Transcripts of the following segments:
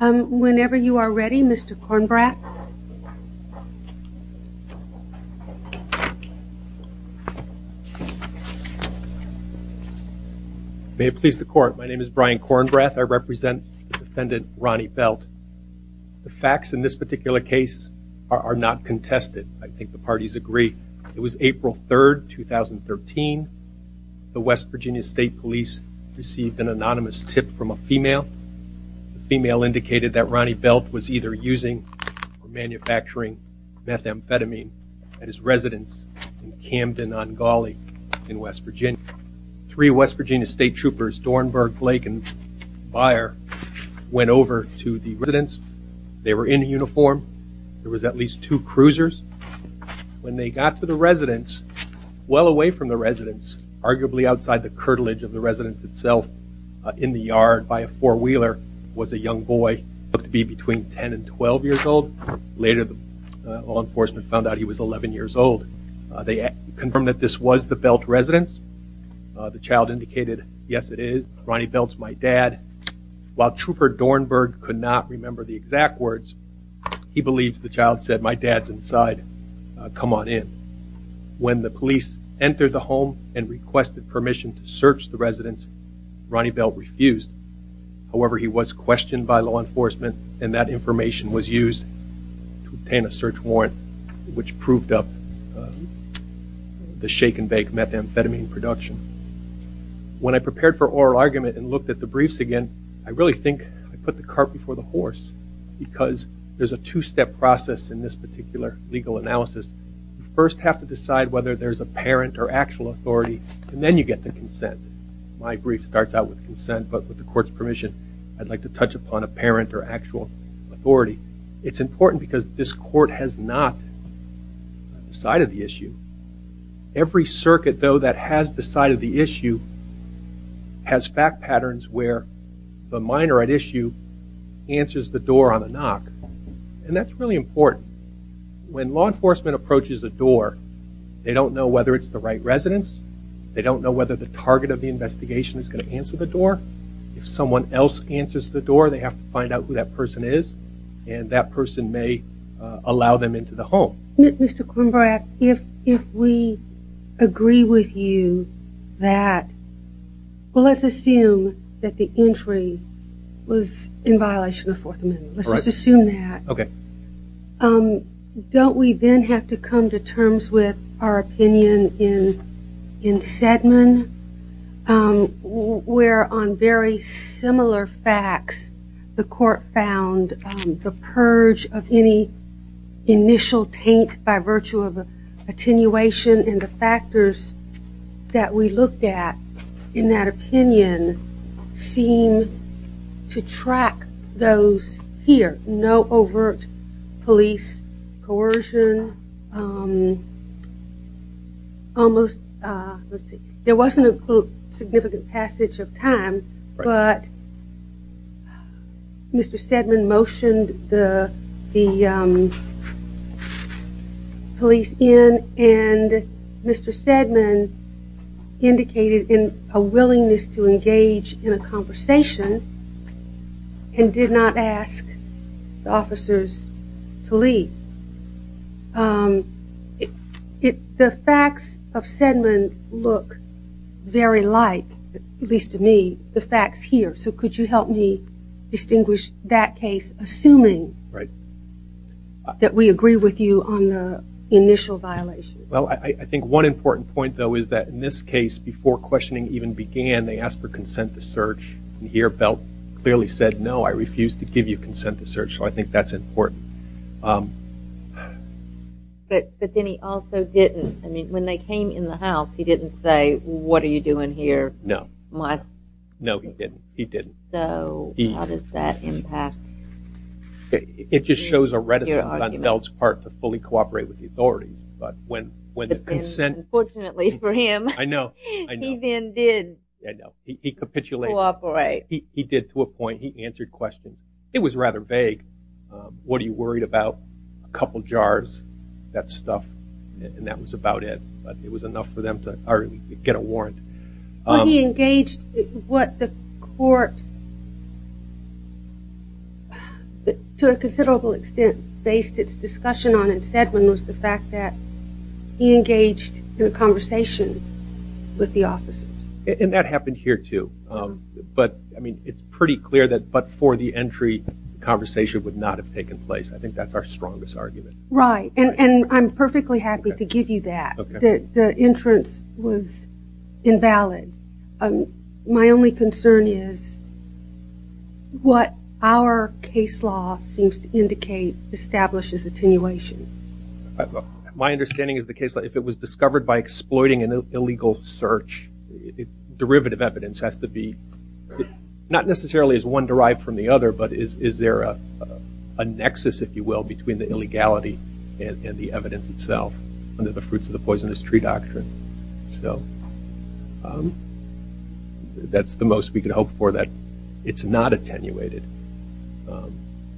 Whenever you are ready Mr. Kornbrath May it please the court my name is Brian Kornbrath I represent defendant Ronnie Belt the facts in this particular case are not contested I think the parties agree it was April 3rd 2013 the West Virginia State Police received an anonymous tip from a female. The female indicated that Ronnie Belt was either using or manufacturing methamphetamine at his residence in Camden, Ongole in West Virginia. Three West Virginia state troopers, Dornberg, Blake and Byer went over to the residence. They were in uniform there was at least two cruisers when they got to the residence well away from the residence arguably outside the in the yard by a four-wheeler was a young boy looked to be between 10 and 12 years old. Later the law enforcement found out he was 11 years old. They confirmed that this was the Belt residence. The child indicated yes it is Ronnie Belt's my dad. While trooper Dornberg could not remember the exact words he believes the child said my dad's inside come on in. When the police entered the home and requested permission to search the residence Ronnie Belt refused. However he was questioned by law enforcement and that information was used to obtain a search warrant which proved up the shake-and-bake methamphetamine production. When I prepared for oral argument and looked at the briefs again I really think I put the cart before the horse because there's a two-step process in this particular legal analysis. First have to parent or actual authority and then you get the consent. My brief starts out with consent but with the court's permission I'd like to touch upon a parent or actual authority. It's important because this court has not decided the issue. Every circuit though that has decided the issue has fact patterns where the minor at issue answers the door on the knock and that's really important. When law enforcement approaches the door they don't know whether it's the right residence. They don't know whether the target of the investigation is going to answer the door. If someone else answers the door they have to find out who that person is and that person may allow them into the home. Mr. Quimbrach if we agree with you that well let's assume that the entry was in violation of Fourth Amendment. Let's assume that. Okay. Don't we then have to come to terms with our opinion in Sedmon where on very similar facts the court found the purge of any initial taint by virtue of attenuation and the factors that we looked at in that here no overt police coercion almost there wasn't a significant passage of time but Mr. Sedmon motioned the the police in and Mr. Sedmon indicated in a in a conversation and did not ask the officers to leave. If the facts of Sedmon look very like at least to me the facts here so could you help me distinguish that case assuming right that we agree with you on the initial violation. Well I think one important point though is that in this case before questioning even began they asked for consent to search and here Belt clearly said no I refuse to give you consent to search so I think that's important. But then he also didn't I mean when they came in the house he didn't say what are you doing here. No. No he didn't he didn't. So how does that impact. It just shows a reticence on Belt's part to fully cooperate with the authorities but when when the consent unfortunately for him. I know. He then did. He capitulated. He did to a point he answered questions. It was rather vague what are you worried about a couple jars that stuff and that was about it but it was enough for them to get a warrant. He engaged what the court to a considerable extent based its discussion on and said when was the fact that he engaged in a conversation with the officers. And that happened here too but I mean it's pretty clear that but for the entry conversation would not have taken place. I think that's our strongest argument. Right and I'm perfectly happy to give you that the entrance was invalid. My only concern is what our case law seems to indicate establishes attenuation. My understanding is the case that if it was discovered by exploiting an illegal search derivative evidence has to be not necessarily as one derived from the other but is there a nexus if you will between the illegality and the evidence itself under the fruits of the poisonous tree doctrine. So that's the most we can hope for that it's not attenuated.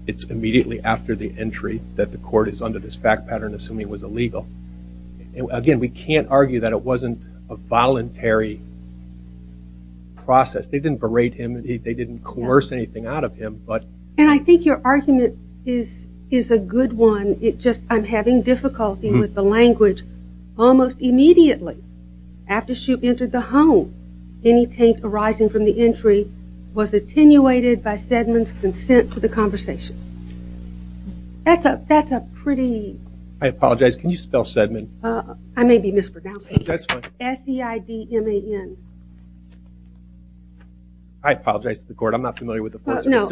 It's immediately after the entry that the court is under this fact pattern assuming it was illegal. And again we can't argue that it wasn't a voluntary process. They didn't berate him. They didn't coerce anything out of him but and I think your argument is is a good one. It just I'm having difficulty with the language. Almost immediately after she entered the home any taint arising from the entry was attenuated by Sedman's consent to the conversation. That's a that's a pretty. I apologize can you spell Sedman? I may be mispronouncing. That's fine. S-E-I-D-M-A-N. I apologize to the court. I'm not familiar with the fact pattern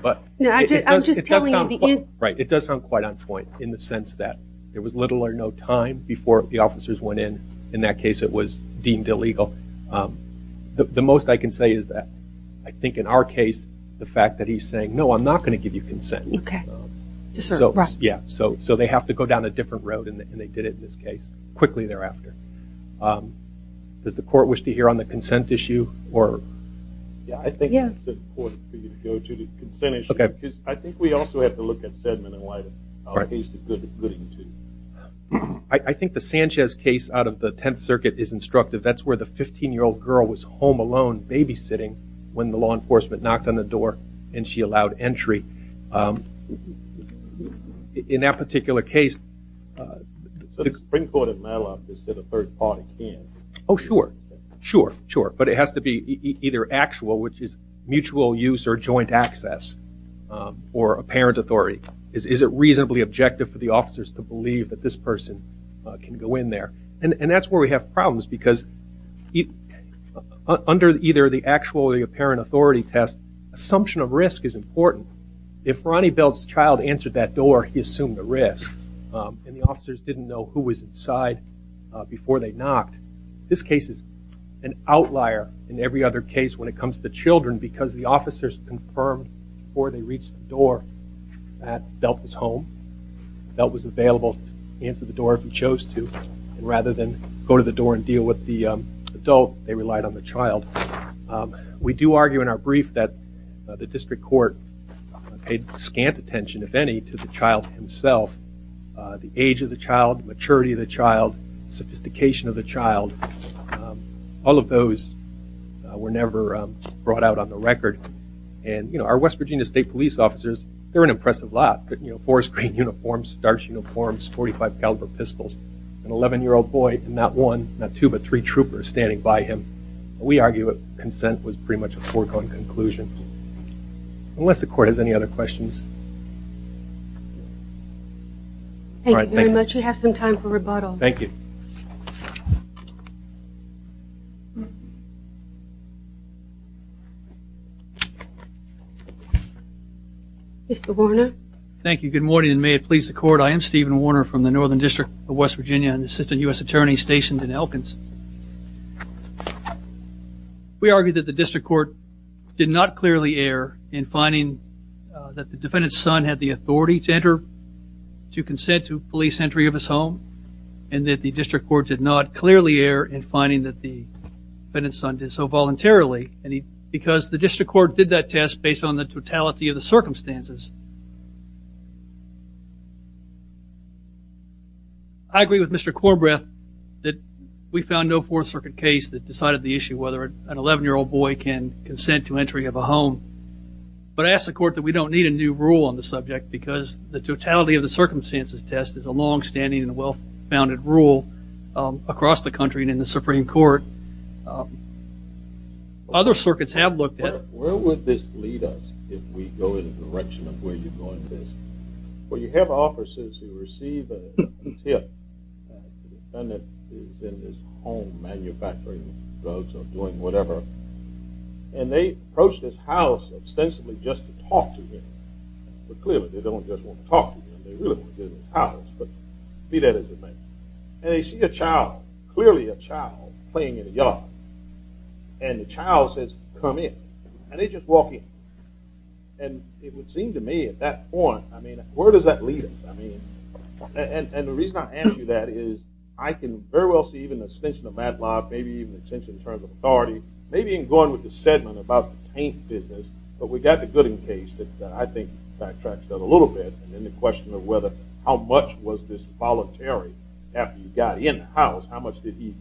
but it does sound quite on point in the sense that there was little or no time before the officers went in. In that case it was I can say is that I think in our case the fact that he's saying no I'm not going to give you consent. Okay. So yeah so so they have to go down a different road and they did it in this case quickly thereafter. Does the court wish to hear on the consent issue? I think the Sanchez case out of the Tenth Circuit is instructive. That's where the 15 year old girl was home alone babysitting when the law enforcement knocked on the door and she allowed entry. In that particular case the Supreme Court of Madelon said a third party can. Oh sure sure sure but it has to be either actual which is mutual use or joint access or a parent authority. Is it reasonably objective for the officers to believe that this person can go in there? And and that's where we have problems because under either the actually apparent authority test assumption of risk is important. If Ronnie Belt's child answered that door he assumed the risk and the officers didn't know who was inside before they knocked. This case is an outlier in every other case when it comes to children because the officers confirmed before they reached the door that Belt was home. Belt was available to answer the door if he chose to rather than go to the door and deal with the adult. They relied on the child. We do argue in our brief that the district court paid scant attention if any to the child himself. The age of the child, maturity of the child, sophistication of the child. All of those were never brought out on the record and you know our West Virginia State Police officers they're an impressive lot. You know forest green uniforms, starch uniforms, 45 caliber pistols. An 11 year old boy and not one not two but three troopers standing by him. We argue that consent was pretty much a foregone conclusion. Unless the court has any other questions. Thank you very much. You have some time for rebuttal. Thank you. Mr. Warner. Thank you. Good morning and may it please the court. I am Stephen Warner from the Northern District of West Virginia and assistant US attorney stationed in Elkins. We argue that the district court did not clearly err in finding that the defendant's son had the authority to enter to consent to police entry of his home and that the district court did not clearly err in finding that the defendant's son did so voluntarily and he because the district court did that test based on the totality of the circumstances. I agree with Mr. Corbett that we found no Fourth Circuit case that decided the issue whether an 11 year old boy can consent to entry of a home. But I ask the court that we don't need a new rule on the subject because the totality of the circumstances test is a long-standing and well-founded rule across the country and in the Supreme Court. Other circuits have looked at. Where would this lead us if we go in the direction of where you're going with this? Well you have officers who receive a tip. The defendant is in this home manufacturing drugs or doing whatever and they approach this house ostensibly just to talk to him, but clearly they don't just want to talk to him, they really want to get in his house, but be that as it may. And they see a child, clearly a child, playing in a yard and the child says come in and they just walk in. And it would seem to me at that point, I mean where does that lead us? I mean and the reason I ask you that is I can very well see even the extension of Matlock, maybe even extension in terms of authority, maybe even going with the Sedlman about the taint business, but we got the Gooding case that I think backtracks that a little bit and then the question of whether how much was this voluntary after you got in the house, how much did he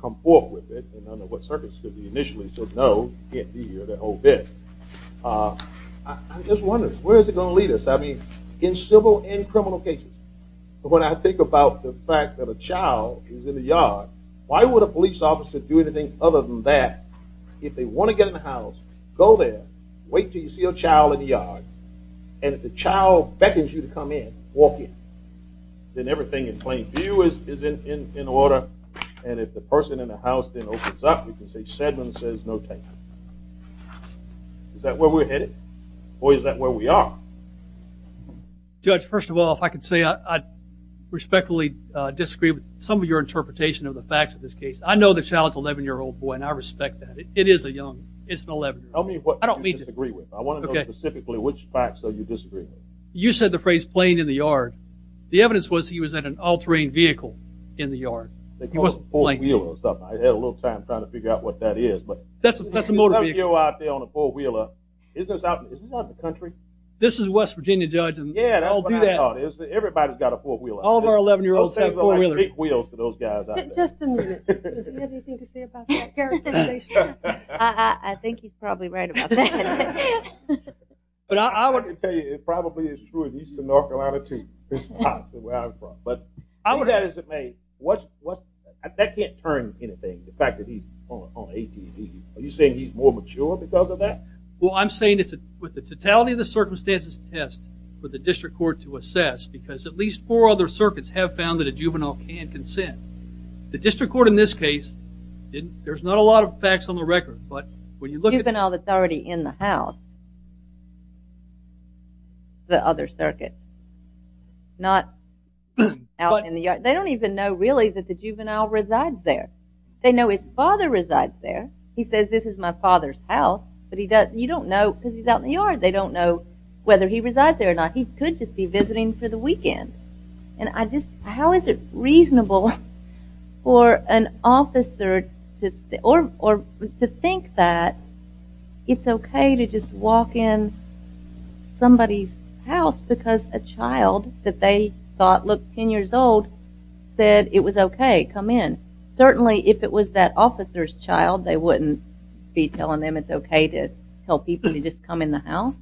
come forth with it and what circuits did he initially said no, he can't be here the whole bit. I just wonder where is it going to lead us? I mean in civil and criminal cases, but when I think about the fact that a child is in the yard, why would a police officer do anything other than that? If they want to get in the house, go there, wait till you see a child in the yard, and if the child beckons you to come in, walk in. Then everything in plain view is in order and if the person in the house then opens up, you can say Sedlman says no taint. Is that where we're headed or is that where we are? Judge, first of all, if I could say I respectfully disagree with some of your interpretation of the facts of this case. I know the child's 11 year old boy and I respect that. It is a young, it's an 11 year old. Tell me what I don't mean to disagree with. I want to know specifically which facts are you disagreeing with. You said the phrase playing in the yard. The evidence was he was at an all-terrain vehicle in the yard. He wasn't playing. I had a little time trying to figure out what that is. That's a motor vehicle. Isn't this out in the country? This is West Virginia, Judge. Yeah, that's what I thought. Everybody's got a four-wheeler. All of our 11 year olds have four-wheelers. Just a minute. Does he have anything to say about that characterization? I think he's probably right about that. But I want to tell you, it probably is true in eastern North Iowa. But I would add as it may, that can't turn anything, the fact that he's on AT&T. Are you saying he's more mature because of that? Well, I'm saying it's with the totality of the circumstances test for the district court to assess because at least four other circuits have found that a juvenile can consent. The district court in this case didn't. There's not a lot of facts on the record, but when you look at it. A juvenile that's already in the house. The other circuit. Not out in the yard. They don't even know really that the juvenile resides there. They know his father resides there. He says this is my father's house, but he doesn't, you don't know because he's out in the yard. They don't know whether he resides there or not. He could just be visiting for the weekend. And I just, how is it reasonable for an officer to think that it's okay to just walk in somebody's house because a child that they thought looked 10 years old said it was okay, come in. Certainly if it was that officer's child, they wouldn't be telling them it's okay to tell people to just come in the house.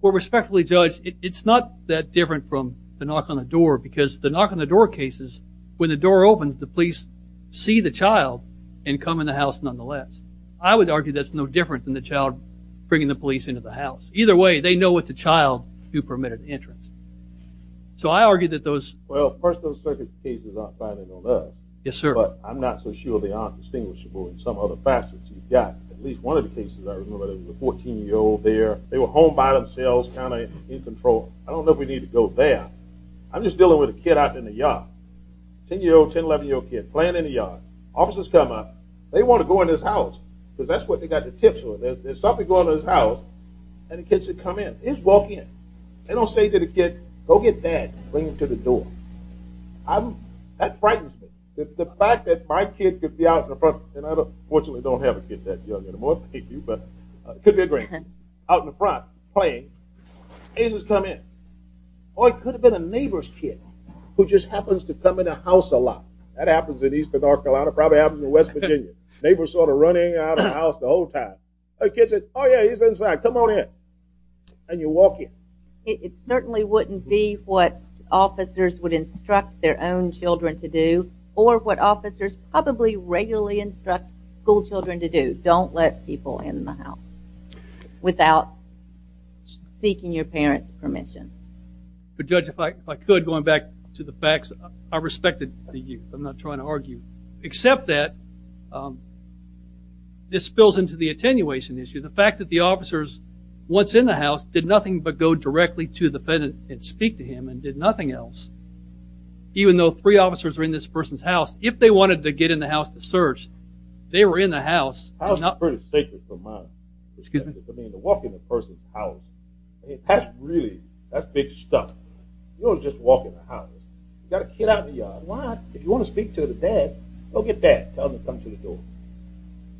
Well, respectfully judge, it's not that different from the knock on the door because the knock on the door cases, when the door opens, the police see the child and come in the house nonetheless. I would argue that's no different than the house. Either way, they know it's a child who permitted entrance. So I argue that those... Well, first those circuit cases are fine and all that. Yes, sir. But I'm not so sure they aren't distinguishable in some other facets. You've got at least one of the cases I remember that was a 14-year-old there. They were home by themselves, kind of in control. I don't know if we need to go there. I'm just dealing with a kid out in the yard. 10-year-old, 10, 11-year-old kid playing in the yard. Officers come up. They want to go in his house because that's what they got the tips with. There's nothing wrong with his house. And the kids that come in, they just walk in. They don't say to the kid, go get dad, bring him to the door. That frightens me. The fact that my kid could be out in the front, and I don't fortunately don't have a kid that young anymore, thank you, but it could be a great kid, out in the front playing, cases come in. Or it could have been a neighbor's kid who just happens to come in a house a lot. That happens in eastern North Carolina, probably happens in West Virginia. Neighbors sort of running out of the house the whole time. A kid says, oh yeah, he's inside, come on in. And you walk in. It certainly wouldn't be what officers would instruct their own children to do or what officers probably regularly instruct schoolchildren to do. Don't let people in the house without seeking your parents permission. But judge, if I could, going back to the facts, I respected the youth. I'm not trying to argue, except that this spills into the attenuation issue. The fact that the officers, once in the house, did nothing but go directly to the defendant and speak to him and did nothing else. Even though three officers were in this person's house, if they wanted to get in the house to search, they were in the house. That was pretty sacred for mine. I mean, to walk in a person's house. That's really, that's big stuff. You don't just walk in the house. You got a kid out in the yard. Why? If you want to speak to the dad, go get dad. Tell him to come to the door.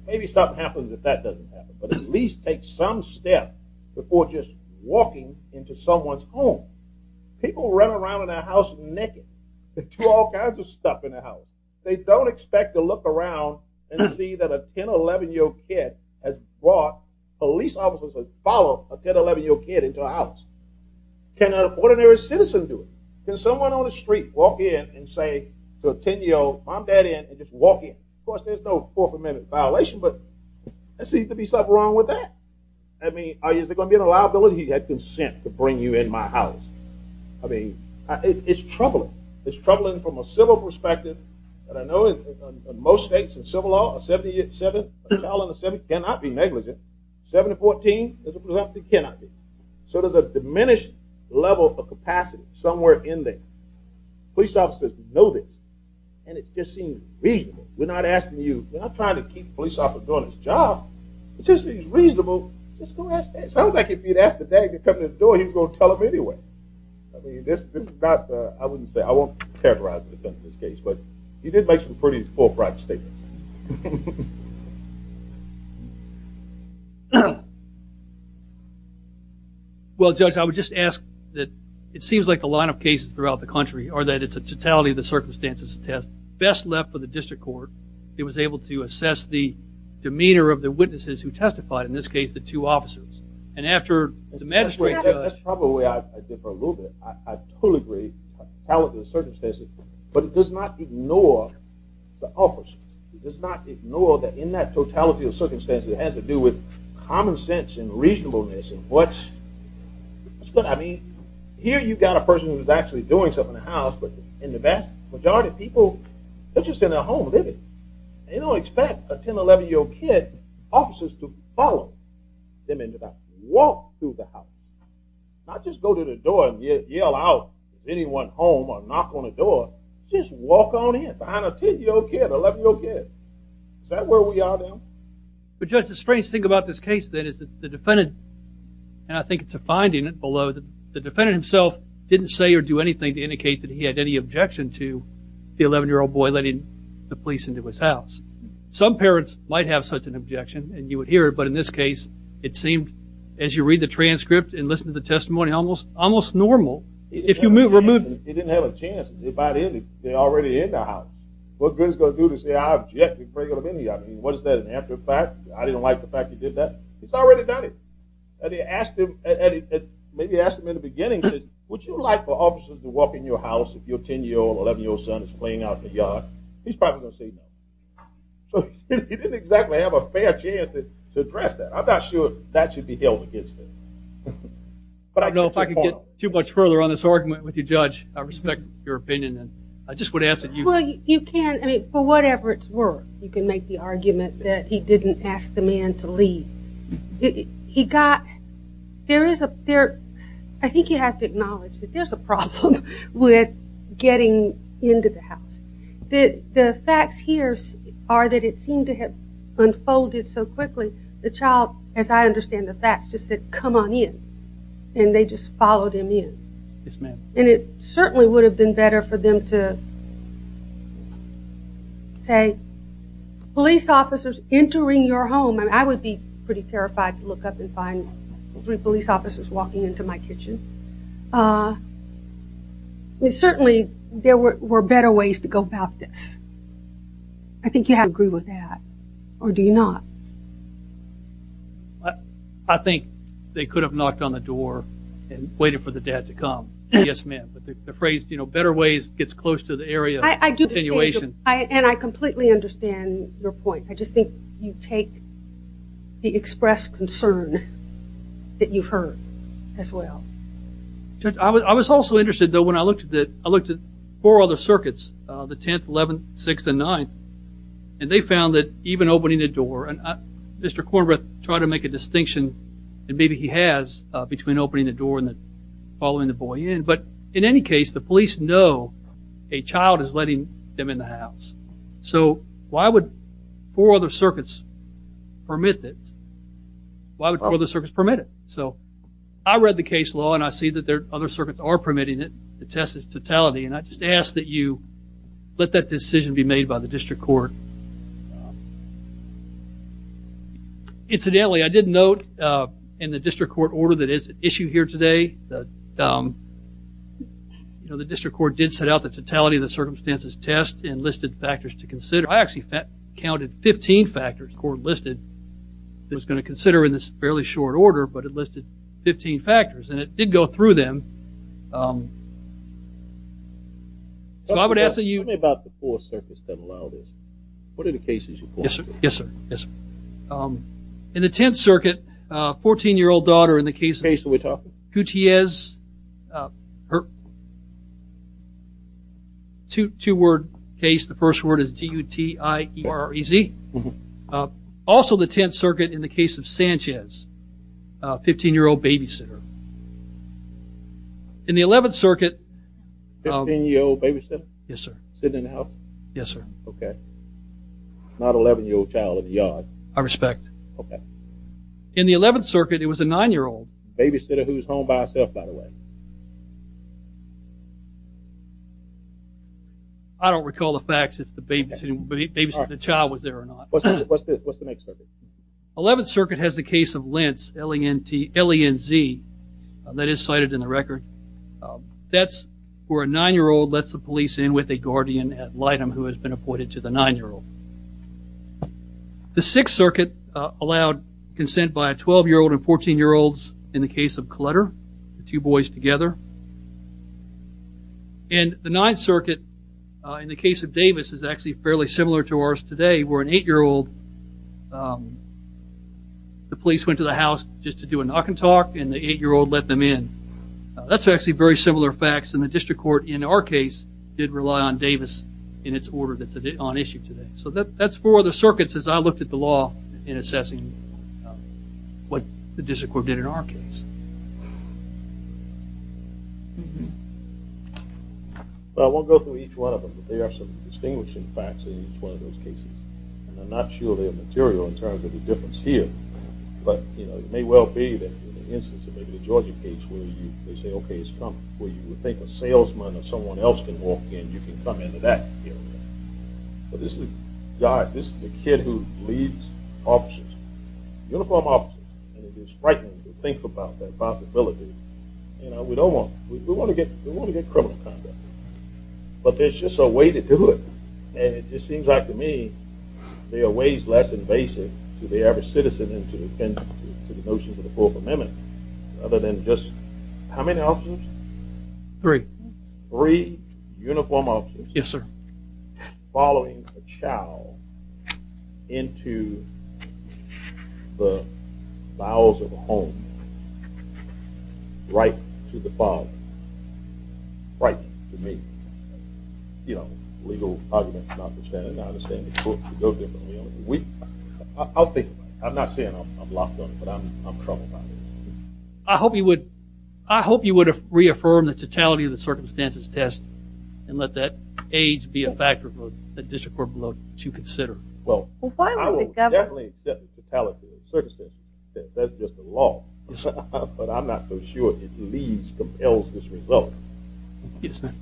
Maybe something happens if that doesn't happen. But at least take some step before just walking into someone's home. People run around in their house naked. They do all kinds of stuff in the house. They don't expect to look around and see that a 10, 11 year old kid has brought police officers that follow a 10, 11 year old kid into a house. Can an ordinary citizen do it? Can someone on Of course, there's no Fourth Amendment violation, but there seems to be something wrong with that. I mean, is there going to be an allowability? He had consent to bring you in my house. I mean, it's troubling. It's troubling from a civil perspective, but I know in most states and civil law, a 70 year, 7, a child under 7 cannot be negligent. 7 to 14, as a presumption, cannot be. So there's a diminished level of capacity somewhere in there. Police officers know this and it I'm not asking you, I'm not trying to keep a police officer doing his job. It's just reasonable, just go ask him. It sounds like if you'd ask the daddy to come to the door, he'd go tell him anyway. I mean, this is not, I wouldn't say, I won't characterize the defense in this case, but he did make some pretty full-fledged statements. Well, Judge, I would just ask that it seems like the line of cases throughout the country are that it's a totality of the circumstances test best left for the was able to assess the demeanor of the witnesses who testified, in this case, the two officers. And after the magistrate... That's probably the way I differ a little bit. I totally agree, totality of the circumstances, but it does not ignore the officers. It does not ignore that in that totality of circumstances, it has to do with common sense and reasonableness and what's, I mean, here you've got a person who's actually doing something in the house, but in the vast majority of cases, they're just in their home living. They don't expect a 10, 11-year-old kid, officers, to follow them into the house. Walk through the house. Not just go to the door and yell out to anyone home or knock on the door. Just walk on in behind a 10-year-old kid, 11-year-old kid. Is that where we are now? But Judge, the strange thing about this case, then, is that the defendant, and I think it's a finding below, that the defendant himself didn't say or do anything to indicate that he had any the police into his house. Some parents might have such an objection, and you would hear it, but in this case, it seemed, as you read the transcript and listen to the testimony, almost normal. If you move, remove... He didn't have a chance. They're already in the house. What good is it going to do to say, I objected, before he got in the yard. What is that, an after fact? I didn't like the fact he did that. He's already done it, and he asked him, maybe asked him in the beginning, would you like for officers to walk in your house if your 10-year-old, 11-year-old son is playing out in the yard? He's probably going to say no. He didn't exactly have a fair chance to address that. I'm not sure that should be held against him. But I don't know if I could get too much further on this argument with you, Judge. I respect your opinion. I just would ask that you... Well, you can, I mean, for whatever it's worth, you can make the argument that he didn't ask the man to leave. He got... There is a... I think you have acknowledged that there's a problem with getting into the house. The facts here are that it seemed to have unfolded so quickly, the child, as I understand the facts, just said, come on in. And they just followed him in. Yes, ma'am. And it certainly would have been better for them to say, police officers entering your home, and I would be pretty terrified to look up and find three police officers walking into my kitchen. Certainly, there were better ways to go about this. I think you have to agree with that. Or do you not? I think they could have knocked on the door and waited for the dad to come. Yes, ma'am. But the phrase, you know, better ways gets close to the area of continuation. And I completely understand your point. I just think you take the expressed concern that you've heard as well. I was also interested, though, when I looked at four other circuits, the 10th, 11th, 6th, and 9th, and they found that even opening the door, and Mr. Kornbrath tried to make a distinction, and maybe he has, between opening the door and following the boy in. But in any case, the police know a child is letting them in the house. So why would four other circuits permit this? Why would four other circuits permit it? I read the case law, and I see that other circuits are permitting it. The test is totality. And I just ask that you let that decision be made by the District Court. Incidentally, I did note in the District Court order that is issued here today, the District Court did set out the totality of the circumstances test and listed factors to consider. I actually counted 15 factors Korn listed that I was going to consider in this fairly short order, but it listed 15 factors. And it did go through them. So I would ask that you... Tell me about the four circuits that allow this. Yes, sir. Yes, sir. In the 10th Circuit, a 14-year-old daughter in the case... What case are we talking? Gutierrez. Two-word case. The first word is G-U-T-I-E-R-E-Z. Also the 10th Circuit in the case of Sanchez, a 15-year-old babysitter. In the 11th Circuit... A 15-year-old babysitter? Yes, sir. Sitting in the house? Yes, sir. Okay. Not an 11-year-old child in the yard. I respect. Okay. In the 11th Circuit, it was a 9-year-old babysitter who was home by herself, by the way. I don't recall the facts if the babysitter the child was there or not. What's the next circuit? 11th Circuit has the case of Lentz, L-E-N-T-L-E-N-Z. That is cited in the record. That's where a 9-year-old lets the police in with a guardian at Litem who has been appointed to the 9-year-old. The 6th Circuit allowed consent by 12-year-old and 14-year-olds in the case of Clutter, the two boys together. And the 9th Circuit in the case of Davis is actually fairly similar to ours today where an 8-year-old the police went to the house just to do a knock and talk and the 8-year-old let them in. That's actually very similar facts and the district court in our case did rely on Davis in its order that's on issue today. So that's four other circuits as I looked at the law in assessing what the district court did in our case. I won't go through each one of them but there are some distinguishing facts in each one of those cases and I'm not sure they're material in terms of the difference here but it may well be that in the instance of maybe the Georgia case where they say okay it's Trump where you would think a salesman or someone else can walk in you can come into that area. But this is God, this is the kid who leads officers, uniformed officers and it is frightening to think about that possibility and we don't want, we want to get criminal conduct but there's just a way to do it and it just seems like to me they are ways less invasive to the average citizen and to the notions of the Fourth Amendment other than just, how many officers? Three. Three uniformed officers. Yes sir. Following a child into the bowels of a home right to the father right to me. You know, legal I'll think about it. I'm not saying I'm locked on it but I'm troubled about it. I hope you would reaffirm the totality of the circumstances test and let that age be a factor for the district court below to consider. Well, I will definitely accept the totality of the circumstances test. That's just the law. But I'm not so sure it leads, compels this result. Yes ma'am.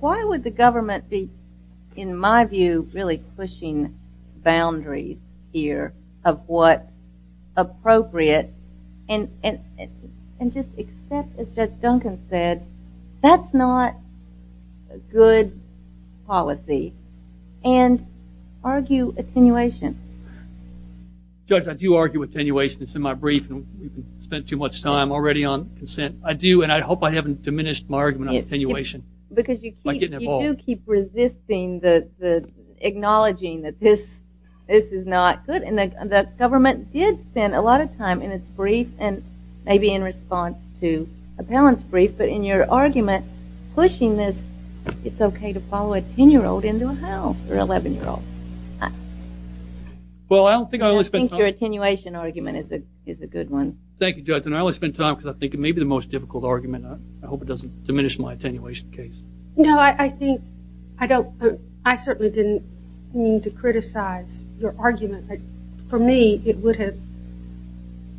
Why would the government be in my view really pushing boundaries here of what appropriate and just except as Judge Duncan said, that's not good policy and argue attenuation. Judge, I do argue attenuation. It's in my brief and we've spent too much time already on consent. I do and I hope I haven't diminished my argument on attenuation. Because you do keep resisting the acknowledging that this is not good and the government did spend a lot of time in its brief and maybe in response to appellant's brief but in your argument pushing this, it's okay to follow a 10 year old into a house or 11 year old. Well, I don't think your attenuation argument is a good one. Thank you Judge and I only spent time because I think it may be the most difficult argument. I hope it doesn't diminish my attenuation case. No, I think, I don't, I certainly didn't need to criticize your argument. For me, it would have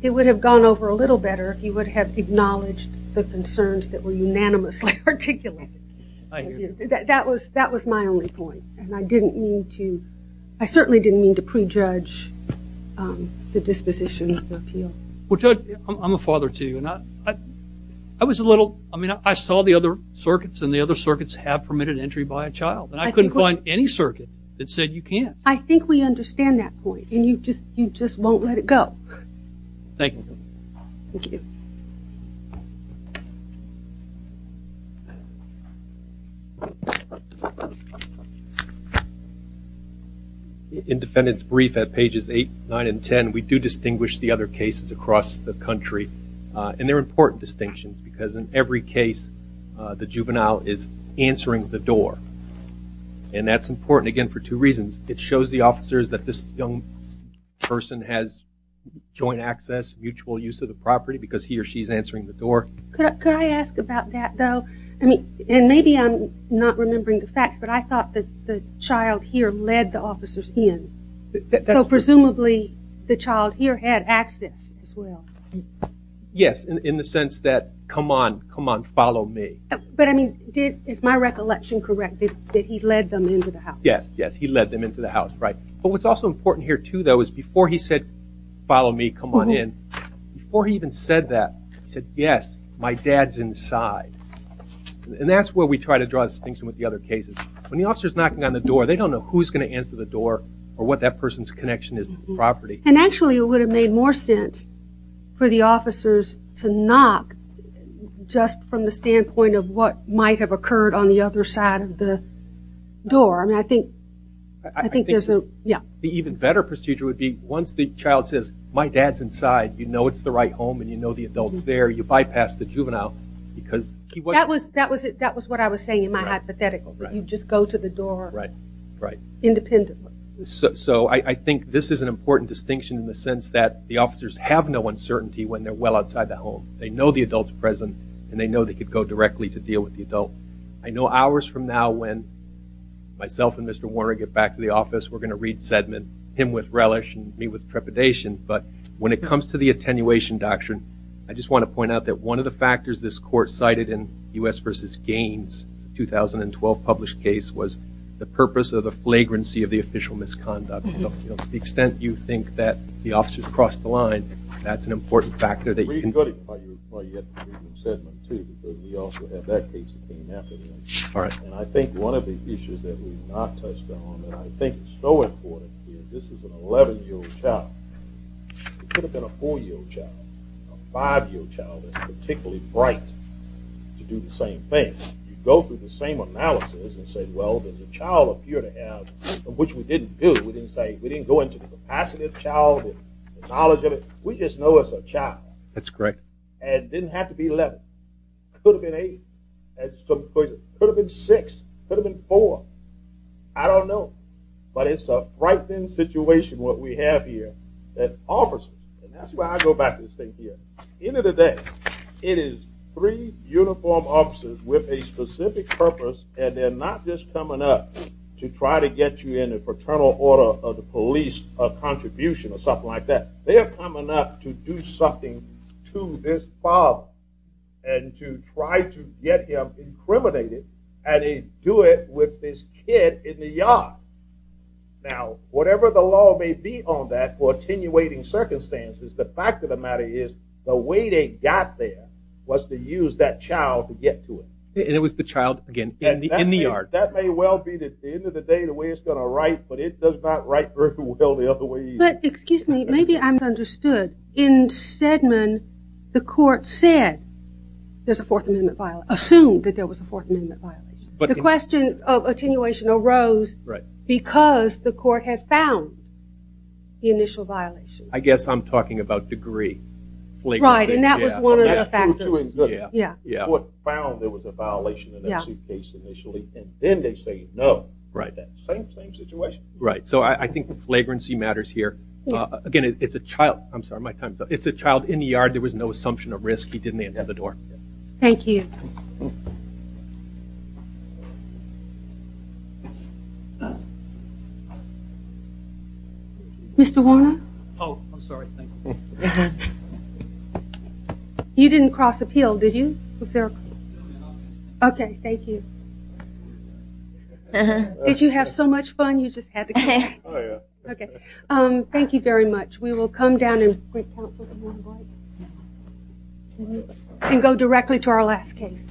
it would have gone over a little better if you would have acknowledged the concerns that were unanimously articulated. That was my only point and I didn't need to, I certainly didn't need to prejudge the disposition of the appeal. Well Judge, I'm a father too and I was a little I mean I saw the other circuits and the other circuits have permitted entry by a child and I couldn't find any circuit that said you can't. I think we understand that point and you just won't let it go. Thank you. In defendant's brief at pages 8, 9, and 10 we do distinguish the other cases across the country and they're important distinctions because in every case the juvenile is answering the door and that's important again for two reasons. It shows the officers that this young person has joint access, mutual use of the property because he or she is answering the door. Could I ask about that though? I mean and maybe I'm not remembering the facts but I thought that the child here led the officers in. So presumably the child here had access as well. Yes, in the sense that come on, come on follow me. But I mean is my recollection correct that he led them into the house. Yes, he led them into the house. But what's also important here too though is before he said follow me, come on in. Before he even said that, he said yes, my dad's inside. And that's where we try to draw a distinction with the other cases. When the officer's knocking on the door they don't know who's going to answer the door or what that person's connection is to the property. And actually it would have made more sense for the officers to knock just from the standpoint of what might have occurred on the other side of the door. I mean I think there's a... The even better procedure would be once the child says, my dad's inside, you know it's the right home and you know the adult's there, you bypass the juvenile because... That was what I was saying in my hypothetical. You just go to the door independently. So I think this is an important distinction in the sense that the officers have no uncertainty when they're well outside the home. They know the adult's present and they know they could go directly to deal with the adult. I know hours from now when myself and Mr. Warner get back to the office we're going to read Sedman, him with relish and me with trepidation, but when it comes to the attenuation doctrine I just want to point out that one of the factors this court cited in U.S. v. Gaines, 2012 published case, was the purpose of the flagrancy of the official misconduct. So to the extent you think that the officers crossed the line, that's an important factor that you can... I think one of the issues that we've not touched on and I think it's so important here, this is an 11-year-old child. It could have been a 4-year-old child, a 5-year-old child that's particularly bright to do the same thing. You go through the same analysis and say well does a child appear to have which we didn't do, we didn't go into the capacity of the child, the knowledge of it, we just know it's a child. That's correct. And it didn't have to be 11. It could have been 8. It could have been 6. It could have been 4. I don't know. But it's a frightening situation what we have here. And that's why I go back to this thing here. It is three uniformed officers with a specific purpose and they're not just coming up to try to get you in the paternal order of the police contribution or something like that. They are coming up to do something to this father and to try to get him incriminated and they do it with this kid in the yard. Now, whatever the law may be on that for attenuating circumstances, the fact of the matter is the way they got there was to use that child to get to it. And it was the child, again, in the yard. That may well be at the end of the day the way it's going to write, but it does not write very well the other way either. But, excuse me, maybe I misunderstood. In Sedmon, the court said there's a 4th Amendment violation. Assumed that there was a 4th Amendment violation. The question of attenuation arose because the court had found the initial violation. I guess I'm talking about degree. Right, and that was one of the factors. The court found there was a violation in that case initially and then they say no. Same situation. Right, so I think flagrancy matters here. Again, it's a child. I'm sorry, my time's up. It's a child in the yard. There was no assumption of risk. He didn't answer the door. Thank you. Mr. Warner? Oh, I'm sorry. You didn't cross appeal, did you? Okay, thank you. Did you have so much fun? Oh, yeah. Thank you very much. We will come down and go directly to our last case.